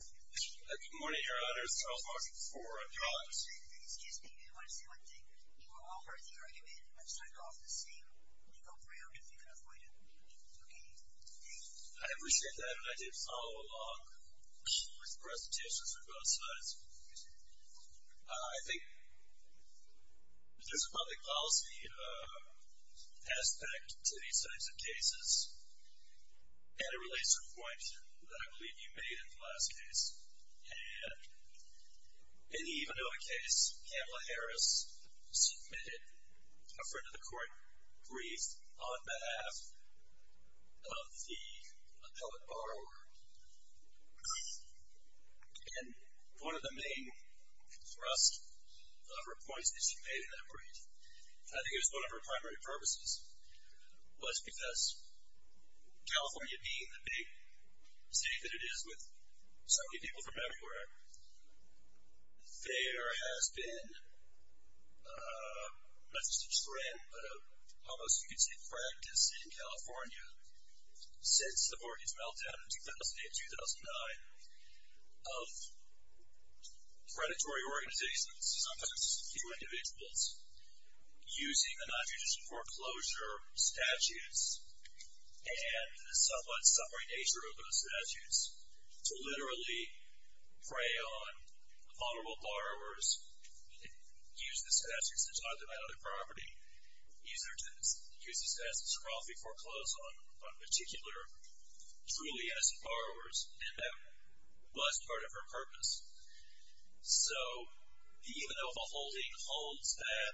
Good morning, your honors. Charles Barker IV of the Office of the Attorney. Excuse me. I want to say one thing. You have all heard the argument. I've signed off the same. You can go pray out if you can avoid it. Okay. Thank you. I appreciate that and I did follow along with the presentations on both sides. Yes, sir. I think there's a public policy aspect to these types of cases and it relates to a point that I believe you made in the last case. In the Ivanova case, Kamala Harris submitted a front of the court brief on behalf of the appellate borrower. And one of the main thrusts of her points that she made in that brief, I think it was one of her primary purposes, was because California being the big city that it is with so many people from everywhere, there has been, not just a trend, but almost you could say a practice in California since the mortgage meltdown in 2008-2009 of predatory organizations, sometimes few individuals, using the non-judicial foreclosure statutes and the somewhat suffering nature of those statutes to literally prey on vulnerable borrowers, use the statutes to drive them out of the property, use the statutes to draw up a foreclosure on particular, truly innocent borrowers. And that was part of her purpose. So the Ivanova holding holds that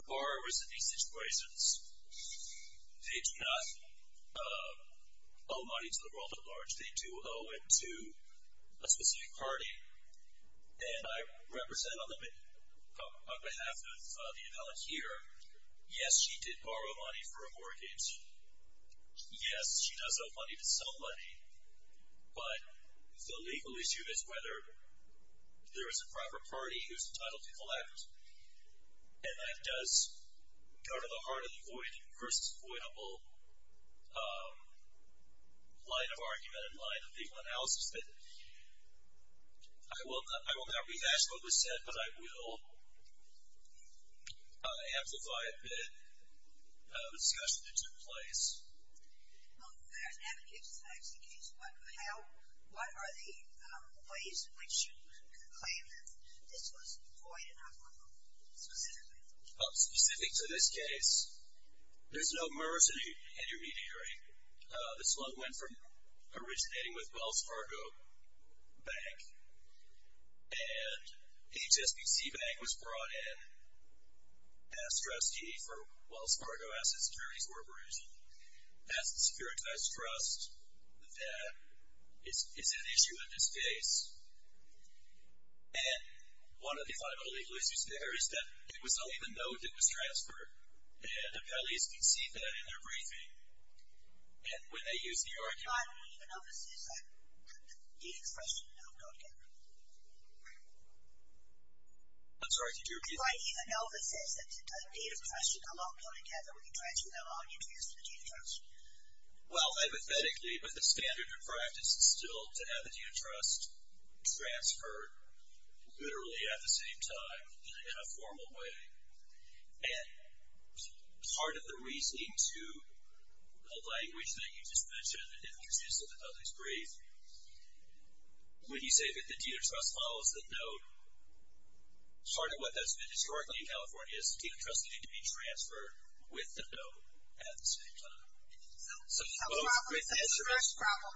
the borrowers in these situations, they do not owe money to the world at large. They do owe it to a specific party. And I represent on behalf of the appellate here, yes, she did borrow money for a mortgage. Yes, she does owe money to somebody. But the legal issue is whether there is a proper party who is entitled to collect. And that does go to the heart of the void versus avoidable line of argument and line of legal analysis. But I will not rehash what was said, but I will amplify a bit the discussion that took place. Well, first, haven't you just asked the case, what are the ways in which you could claim that this was void and not vulnerable, specifically? Specific to this case, there's no merge intermediary. This loan went from originating with Wells Fargo Bank, and HSBC Bank was brought in as trustee for Wells Fargo Asset Security Corporation. That's the securitized trust that is at issue in this case. And one of the final legal issues there is that it was only the note that was transferred, and appellees can see that in their briefing. And when they use the argument. But even Elvis says that the deed of trust should not go together. I'm sorry, did you repeat? Right, even Elvis says that the deed of trust should not go together when you transfer the loan interest to the deed of trust. Well, hypothetically, but the standard in practice is still to have the deed of trust transferred literally at the same time in a formal way. And part of the reasoning to the language that you just mentioned and introduced in the other brief, when you say that the deed of trust follows the note, part of what has been historically in California is the deed of trust can be transferred with the note at the same time. So the problem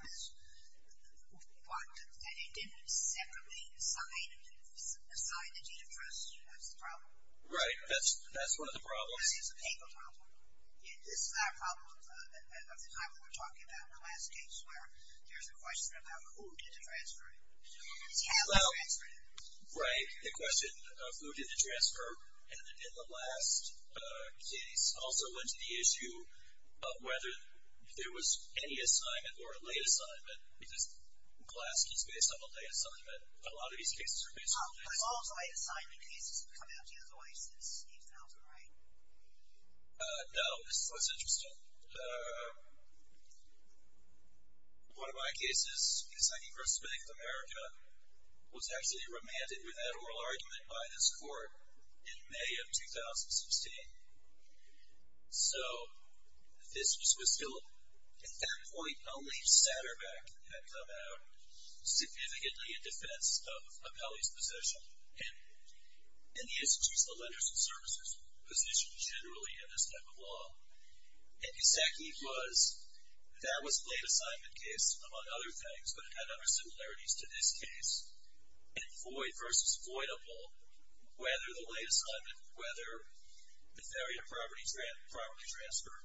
is that it didn't separately assign the deed of trust as the problem. Right, that's one of the problems. This is a painful problem. This is that problem of the time when we were talking about the last case where there's a question about who did the transferring. Yeah, who transferred it. Right, the question of who did the transfer. And in the last case also went to the issue of whether there was any assignment or a late assignment, because Glaske is based on a late assignment. A lot of these cases are based on late assignments. A lot of late assignment cases have come out the other way since you found them, right? No. This is what's interesting. One of my cases in Assigning First Amendment to America was actually remanded with that oral argument by this court in May of 2016. So this was still at that point only Satterbeck had come out significantly in defense of Apelli's position. And he has to choose the lenders and servicers position generally in this type of law. And his technique was that was a late assignment case among other things, but it had other similarities to this case. And void versus voidable, whether the late assignment, whether the failure of property transfer,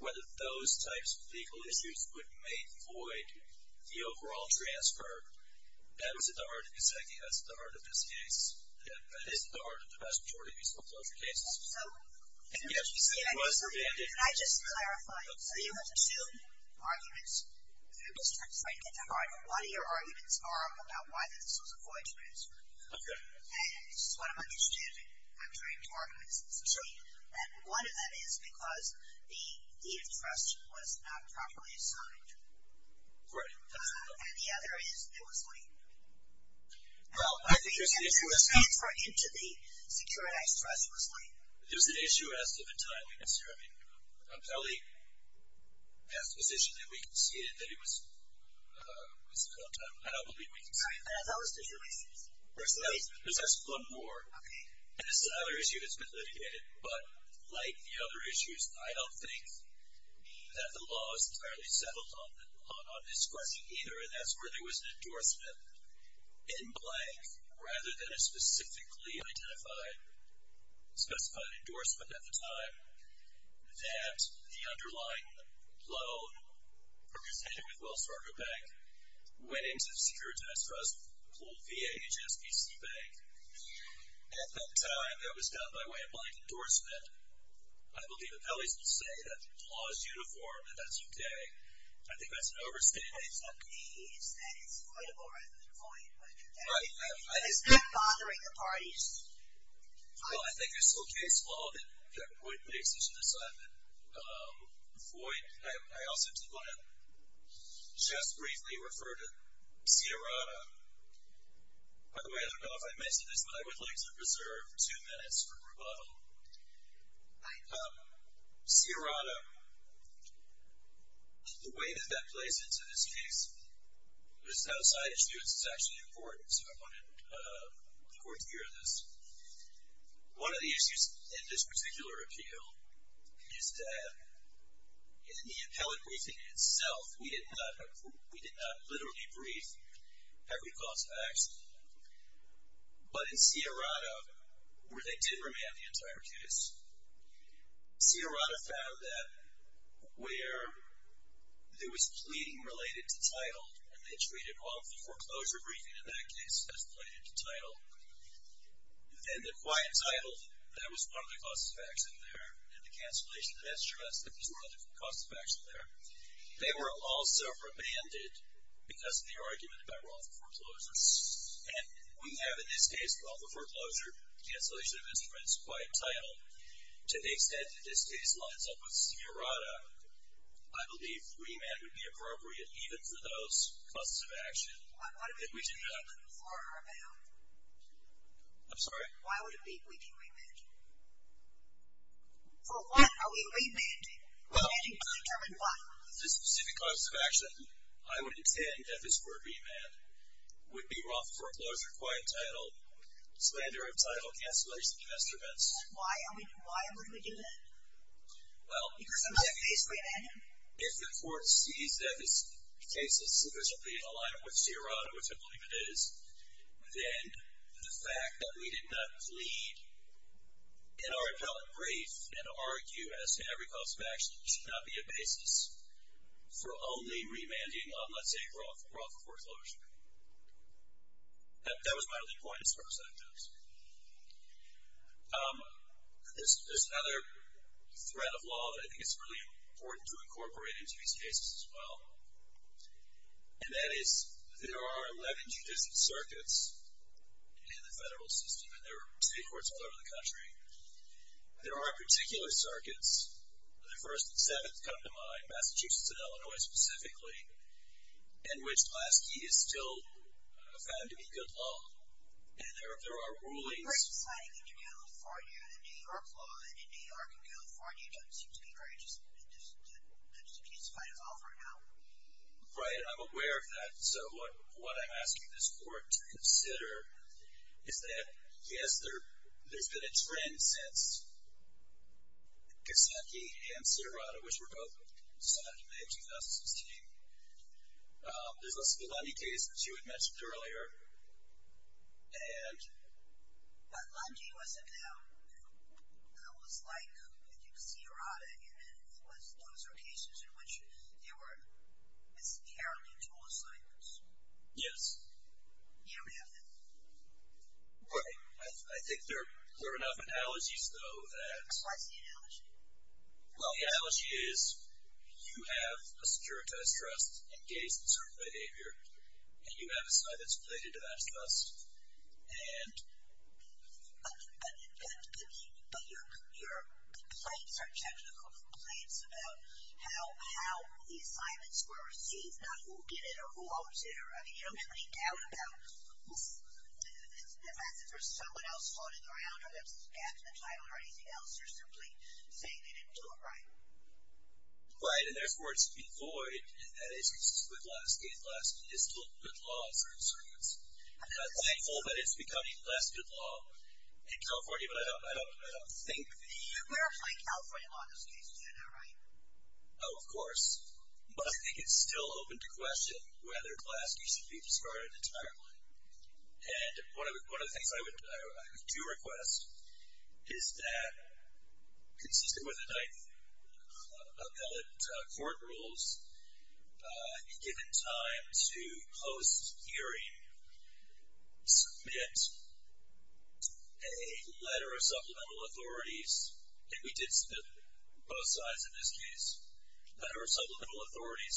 whether those types of legal issues would make void the overall transfer, that was at the heart of this case. That is at the heart of the vast majority of these disclosure cases. So in which case, can I just clarify? So you have two arguments. Let me just try to get to heart. What are your arguments are about why this was a void transfer? Okay. And this is what I'm interested in. I'm trained to argue this. Sure. And one of them is because the interest was not properly assigned. Right. And the other is it was late. Well, I think there's an issue. The transfer into the securitized trust was late. There's an issue as to the time. I mean, Apelli has a position that we conceded that it was the wrong time. I don't believe we conceded. I thought it was the two reasons. There's one more. Okay. And this is another issue that's been litigated. But like the other issues, I don't think that the law is entirely settled on this question either, and that's where there was an endorsement in blank, rather than a specifically identified, specified endorsement at the time, that the underlying loan, a concession with Wells Fargo Bank, went into the securitized trust, called VAHSBC Bank. At that time, there was, down my way, a blank endorsement. I believe Apelli's will say that the law is uniform and that's okay. I think that's an overstatement. But it's not me. It's that it's avoidable rather than void. It's not bothering the parties. Well, I think it's okay. It's law that void makes such an assignment. Void, I also just want to just briefly refer to Sierrata. By the way, I don't know if I mentioned this, but I would like to reserve two minutes for rebuttal. Sierrata, the way that that plays into this case, this is outside of students, is actually important. So I wanted the court to hear this. One of the issues in this particular appeal is that in the Apelli briefing itself, we did not literally brief every cause of action. But in Sierrata, where they did remand the entire case, Sierrata found that where there was pleading related to title, and they treated all of the foreclosure briefing in that case as pleading to title, then the quiet title, that was one of the causes of action there, and the cancellation of that stress, that was one of the causes of action there. They were also remanded because of the argument about all the foreclosures. And we have, in this case, all the foreclosure, cancellation of instruments, quiet title. To the extent that this case lines up with Sierrata, I believe remand would be appropriate even for those causes of action. What are we remanding for or about? I'm sorry? Why would we be remanding? For what are we remanding? Remanding to determine what? The specific causes of action, I would intend that this were remand, would be wrong foreclosure, quiet title, slander of title, cancellation of instruments. Why would we do that? Well, if the court sees that this case is sufficiently in line with Sierrata, which I believe it is, then the fact that we did not plead in our appellate brief and argue, as to every cause of action, should not be a basis for only remanding on, let's say, raw foreclosure. That was my only point as far as that goes. There's another thread of law that I think is really important to incorporate into these cases as well, and that is there are 11 judicial circuits in the federal system, and there are city courts all over the country. There are particular circuits, the first and seventh come to mind, Massachusetts and Illinois specifically, in which Lasky is still found to be good law, and there are rulings. Right. I'm aware of that. So what I'm asking this court to consider is that, yes, there's been a trend since Kasaki and Sierrata, which were both decided in May of 2016. There's also the Lundy case, which you had mentioned earlier. And. But Lundy wasn't, though. It was like, I think, Sierrata, and it was those are cases in which there were inherently dual assignments. Yes. You don't have that. Right. I think there are enough analogies, though, that. What's the analogy? Well, the analogy is you have a securitized trust engaged in certain behavior, and you have assignments related to that trust. And. But your complaints are technical complaints about how the assignments were received, not who did it or who owns it. I mean, you don't have any doubt about the fact that there was someone else floating around or there was a gap in the title or anything else, or simply saying they didn't do it right. Right. And therefore, it's devoid that it's consistent with Glaske. Glaske is still a good law in certain circumstances. I'm not thankful that it's becoming less good law in California, but I don't think. We're applying California law in this case. Is that not right? Oh, of course. But I think it's still open to question whether Glaske should be discarded entirely. And one of the things I would do request is that, consistent with the ninth appellate court rules, given time to post-hearing, submit a letter of supplemental authorities, and we did submit both sides in this case, a letter of supplemental authorities,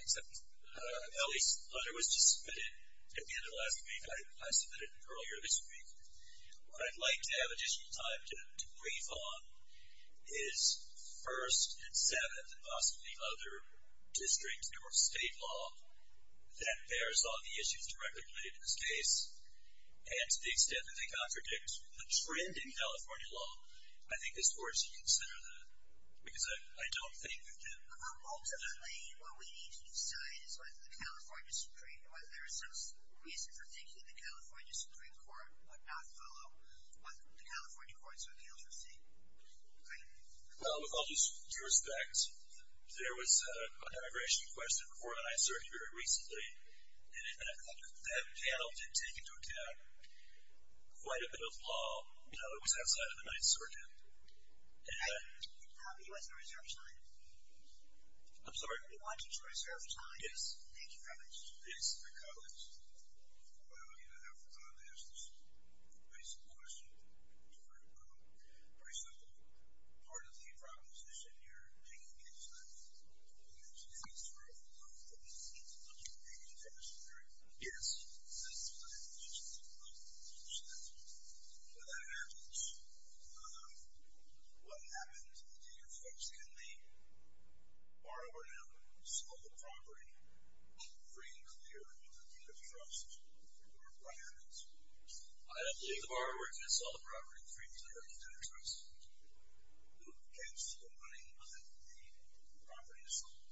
except Ellie's letter was just submitted at the end of last week. I submitted it earlier this week. What I'd like to have additional time to brief on is First and Seventh and possibly other district or state law that bears on the issues directly related to this case, and to the extent that they contradict the trend in California law, I think this Court should consider that. Because I don't think we can. Ultimately, what we need to decide is whether the California Supreme Court would not follow what the California Court of Appeals received. Thank you. Well, with all due respect, there was a demigration question before the Ninth Circuit very recently, and that panel did take into account quite a bit of law that was outside of the Ninth Circuit. I'm sorry? We want you to reserve time. Yes. Thank you very much. Yes. Mr. Collins, I don't even have time to ask this basic question. It's very broad. Very simple. Part of the proposition you're making is that the Ninth Circuit has to review the law before the Ninth Circuit. Do you agree with that? Yes. That's fine. Just let me finish that. When that happens, what happens is that your folks can leave, borrow, and sell the property free and clear of the deed of trust. I don't believe the borrower can sell the property free and clear of the deed of trust. You can't steal the money. The property is sold.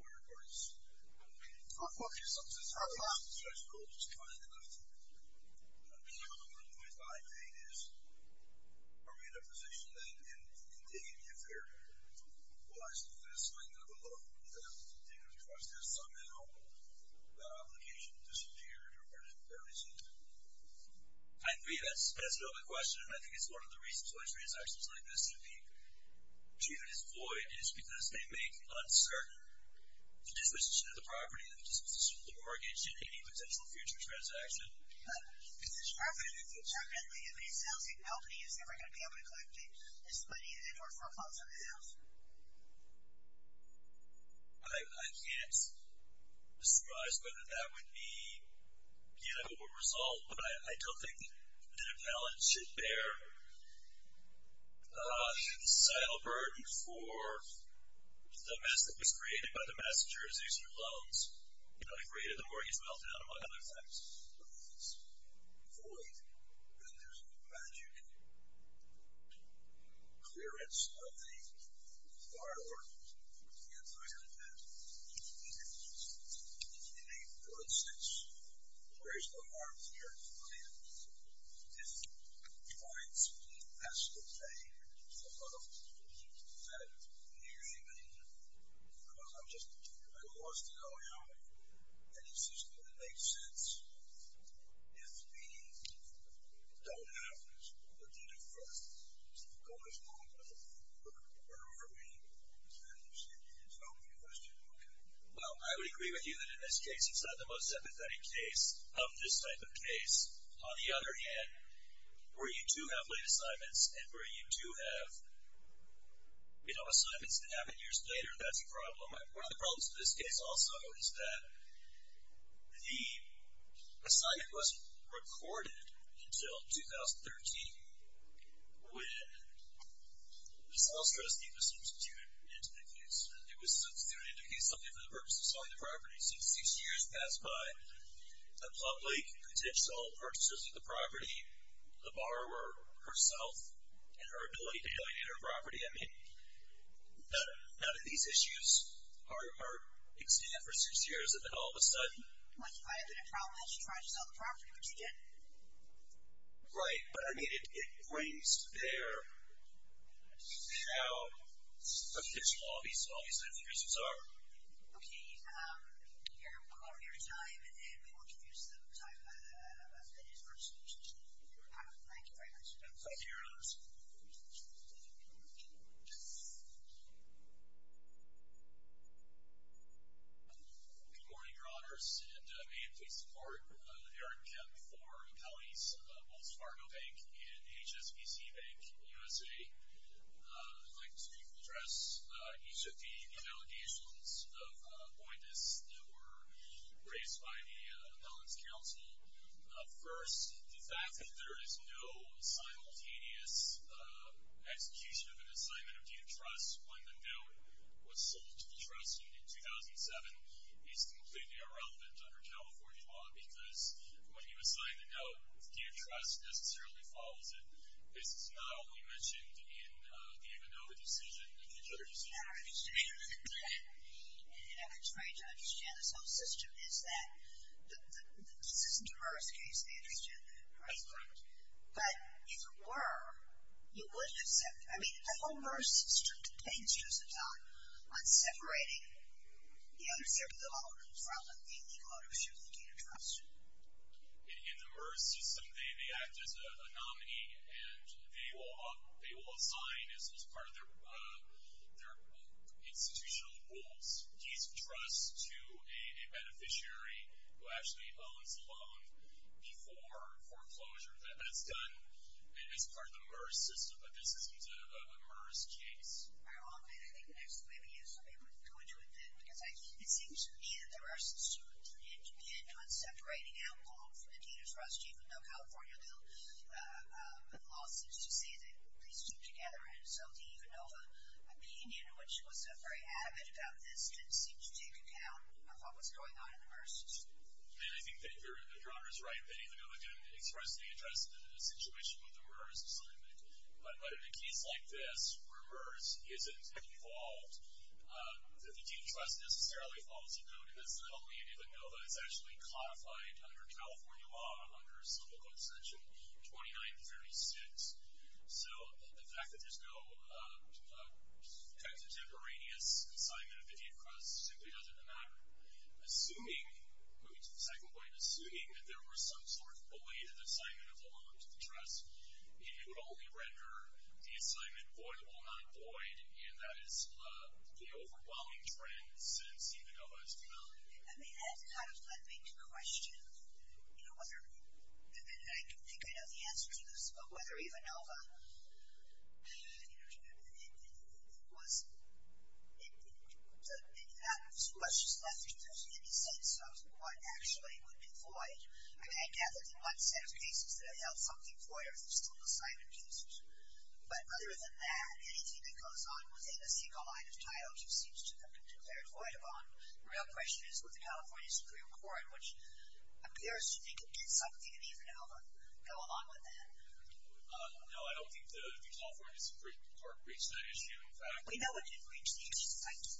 Where is the money? The property is sold. It's fine enough. I believe what I'm trying to say is, are we in a position then to continue to be a fair, well, I suppose, to continue to be fair to the deed of trust, because somehow that obligation disappeared or is it? I agree. That's an open question, and I think it's one of the reasons why transactions like this can be treated as void, is because they make uncertain the disposition of the property, the disposition of the mortgage, and any potential future transaction. The position of the property is uncertain, and if he sells it, how many is he ever going to be able to collect, his money, and or for funds in the house? I can't surmise whether that would be a good result, but I don't think that a balance should bear the societal burden for the mess that was created by the messengers using loans. You know, they created the mortgage meltdown among other things, but if it's void, then there's no magic clearance of the part or the entire debt, and in a good sense, there is no harm to your client if he finds he has to pay the loan that he or she made, because I'm just curious to know, you know, that it's just going to make sense if we don't have this, what would you do first? Is the goal as long as it doesn't work for me? Is that what you're saying? It's an open question. Okay. Well, I would agree with you that in this case, it's not the most sympathetic case of this type of case. On the other hand, where you do have late assignments, and where you do have, you know, assignments that happen years later, that's a problem. One of the problems with this case also is that the assignment wasn't recorded until 2013, when the sales trustee was substituted into the case. It was substituted into the case only for the purpose of selling the property. So, six years pass by, the public contends to all purchases of the property, the borrower herself, and her ability to alienate her property. I mean, none of these issues are extant for six years, and then all of a sudden. What, if I have been a problem, I should try to sell the property, which I did. Right. But, I mean, it brings to bear how official all these reasons are. Okay. We will call your time, and we will introduce the time as it is for discussion. Thank you very much. Thank you, Your Honors. Good morning, Your Honors, and may it please the Court, Eric, for appellees, Wells Fargo Bank, and HSBC Bank USA. I'd like to address, each of the allegations of Boindis, that were raised by the Appellant's Counsel. First, the fact that there is no simultaneous execution of an assignment of deed of trust, when the note was sold to the trust in 2007, is completely irrelevant under California law, because when you assign the note, the deed of trust necessarily follows it. This is not only mentioned in the Ivanova decision, but it's not understood. And I'm trying to understand, this whole system is that, this isn't a MERS case, they understand that, right? That's correct. But, if it were, you wouldn't accept, I mean, the whole MERS system depends, does it not, on separating the underserved, the vulnerable, from the legal ownership of the deed of trust. In the MERS system, they act as a nominee, and they will assign, as part of their institutional rules, deeds of trust to a beneficiary, who actually owns the loan, before foreclosure. That's done, as part of the MERS system, but this isn't a MERS case. Ironically, I think the next thing we need is for people to go into it then, because it seems to me that there are some students in Japan, not separating out law from the deed of trust. Even though California law seems to say that these two together, and so the Ivanova opinion, which was very avid about this, didn't seem to take account of what was going on in the MERS system. And I think that your honor is right, that Ivanova didn't expressly address the situation with the MERS assignment, but in a case like this, where MERS isn't involved, that the deed of trust necessarily falls a note, and that's not only Ivanova, it's actually codified under California law, under Civil Code section 2936. So, the fact that there's no kind of temporaneous assignment of the deed of trust simply doesn't matter. Assuming, moving to the second point, assuming that there was some sort of void in the assignment of the loan to the trust, it would only render the assignment voidable, not void, and that is the overwhelming trend since Ivanova has come out. I mean, that's a kind of flooding question. I wonder, and I think I know the answer to this, but whether Ivanova, you know, was, in fact, was just left with any sense of what actually would be void. I mean, I gathered in one set of cases that have held something void, or there's still assignment cases. But other than that, anything that goes on within a single line of title just seems to have been declared voidable. The real question is with the California Supreme Court, which appears to think it did something in Ivanova, go along with that. No, I don't think the California Supreme Court reached that issue. In fact, We know it didn't reach the issue,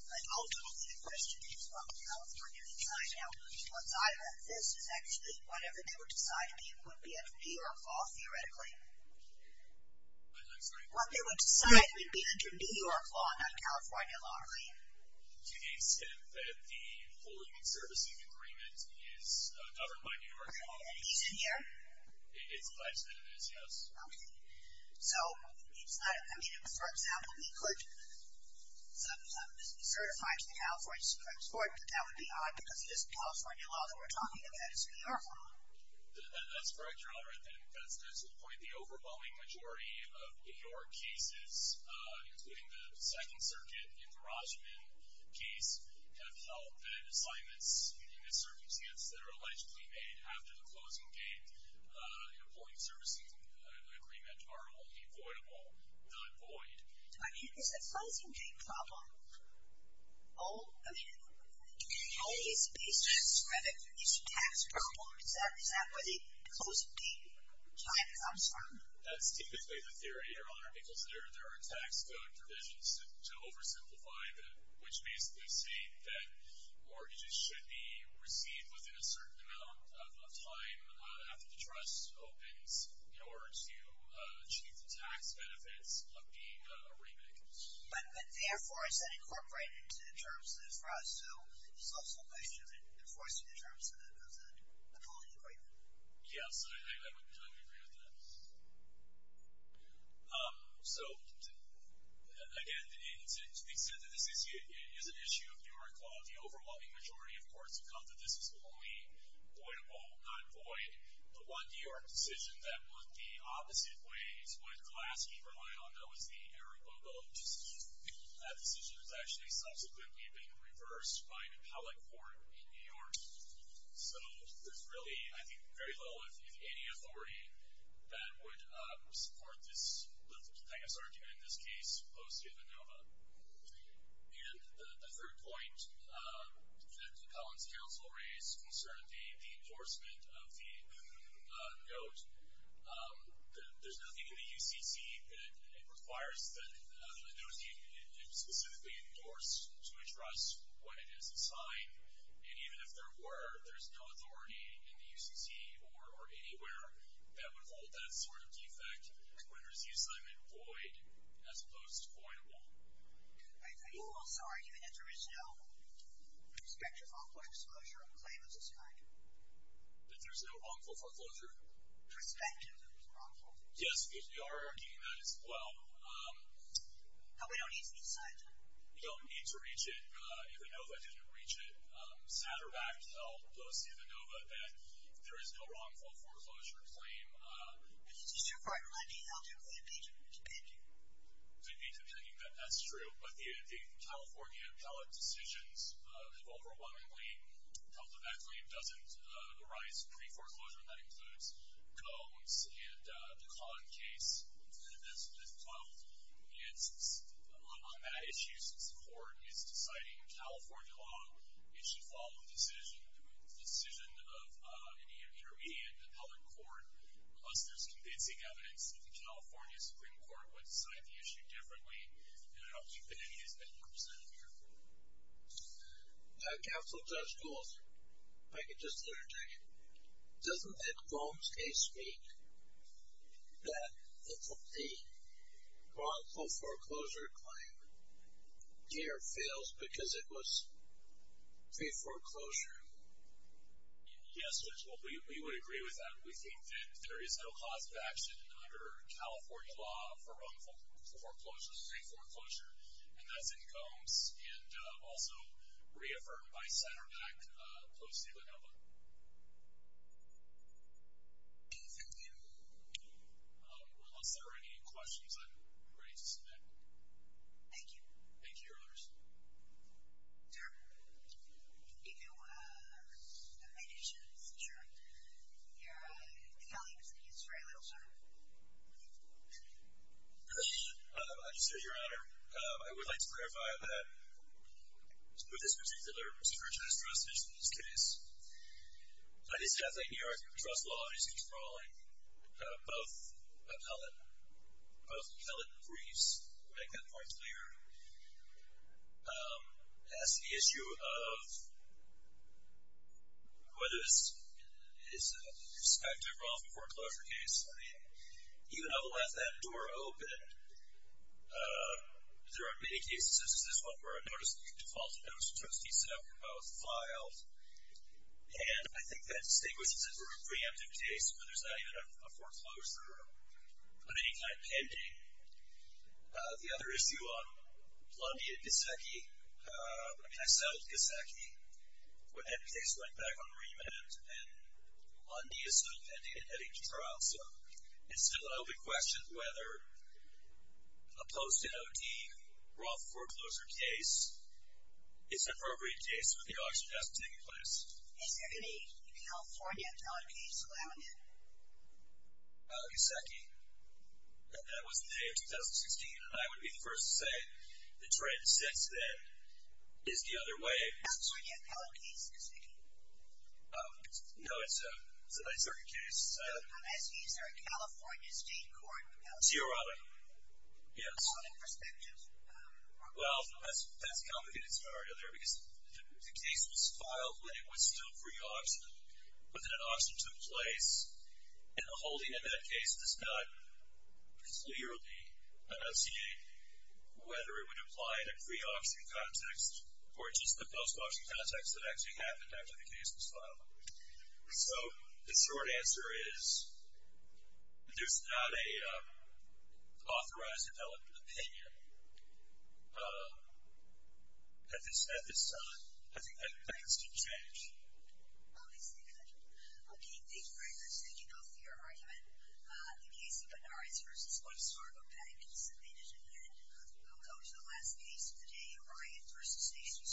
but ultimately, the question is what would California decide. Now, once I read this, it's actually whatever they would decide would be under New York law, theoretically. I'm sorry? What they would decide would be under New York law, not California law, right? To the extent that the full human servicing agreement is governed by New York law, and he's in here? It's alleged that it is, yes. Okay. So, it's not, I mean, if, for example, we could certify to the California Supreme Court that that would be odd because this California law that we're talking about is New York law. That's correct, Your Honor, and that's good to the point. The overwhelming majority of New York cases, including the Second Circuit in the Rajman case, have held that assignments in this circumstance that are allegedly made after the closing date. Employee servicing agreements are only voidable, not void. So, I mean, it's a closing date problem. All, I mean, all these cases, credit, these tax problems, is that where the closing date time comes from? That's typically the theory, Your Honor, because there are tax code provisions to oversimplify that, which basically say that mortgages should be received within a certain amount of time after the trust opens in order to achieve the tax benefits of being a remit. But, but therefore, is that incorporated into the terms of the trust? So, it's also a question of enforcing the terms of the employee agreement. Yes, I would, I would agree with that. So, again, to the extent that this is an issue of New York law, the overwhelming majority of courts have felt that this is only voidable, not void. The one New York decision that looked the opposite way is what Golaski relied on, that was the Arrow-Bobo decision. That decision has actually subsequently been reversed by an appellate court in New York. So, there's really, I think, very little, if any, authority that would support this, I guess, argument in this case opposed to the NOVA. And the third point, that Colin's counsel raised, concerned the, the endorsement of the NOVA. There's nothing in the UCC that requires that, it was specifically endorsed to address what it is, a sign. And even if there were, there's no authority in the UCC or, or anywhere that would hold that sort of defect, when there's the assignment void, as opposed to voidable. Are you also arguing that there is no prospective wrongful foreclosure of a claim of this kind? That there's no wrongful foreclosure? Prospective of this wrongful foreclosure? Yes, because we are arguing that as well. But we don't need to decide that. We don't need to reach it. If the NOVA didn't reach it, Satterbach held, Golaski, the NOVA, that there is no wrongful foreclosure claim. But this is too far, I mean, how do we impeach it? Impeach it? To the opinion that that's true, but the, the California appellate decisions have overwhelmingly held that that claim doesn't arise pre-foreclosure, and that includes Combs and the Kahn case. That's, that's 12. It's, on that issue, since the court is deciding in California law, it should follow the decision, the decision of any intermediate appellate court. Plus there's convincing evidence that the California Supreme Court would decide the issue differently, and I don't think that any has been represented here. Counsel Judge Golas, if I could just interject, doesn't the Combs case speak that the wrongful foreclosure claim here fails because it was pre-foreclosure? Yes, Judge, we would agree with that. We think that there is no cause of action under California law for wrongful foreclosure, pre-foreclosure, and that's in Combs, and also reaffirmed by Satterbach, closely with Elba. Thank you. Unless there are any questions, I'm ready to submit. Thank you. Thank you, Your Honors. Sir, do you have any issues? Sure. Your colleague is going to use very little time. As you say, Your Honor, I would like to clarify that, with this particular Superintendent's trust issue in this case, I did say I think New York trust law is controlling both appellate, both appellate briefs, to make that point clearer. As to the issue of whether it's a prospective wrongful foreclosure case, I mean, even though we'll have that door open, there are many cases, such as this one where a notice of default, a notice of trustee setup, were both filed, and I think that distinguishes it from a preemptive case, where there's not even a foreclosure of any kind pending. The other issue on Lundy and Gasecki, I mean, I settled Gasecki when that case went back on remand, and Lundy is still pending and heading to trial, so it's still an open question whether a post-NOD wrongful foreclosure case is an appropriate case with the auction desk taking place. Is there any California appellate case in Lamington? Gasecki. That was the day of 2016, and I would be the first to say the trend since then is the other way. California appellate case, Gasecki? No, it's a NYSERDA case. Is there a California state court appellate case? Theoronic. Yes. Theoronic prospective? Well, that's a complicated scenario there, because the case was filed when it was still pre-auction, but then an auction took place, and the holding in that case does not clearly enunciate whether it would apply in a pre-auction context or just the post-auction context that actually happened after the case was filed. So the short answer is there's not an authorized appellate opinion at this time. I think that needs to change. Thank you. Thank you very much. Thank you both for your argument. The case of Benares v. One Starbo Bank is submitted, and we'll go to the last case of the day, Orion v. National Starbo Bank.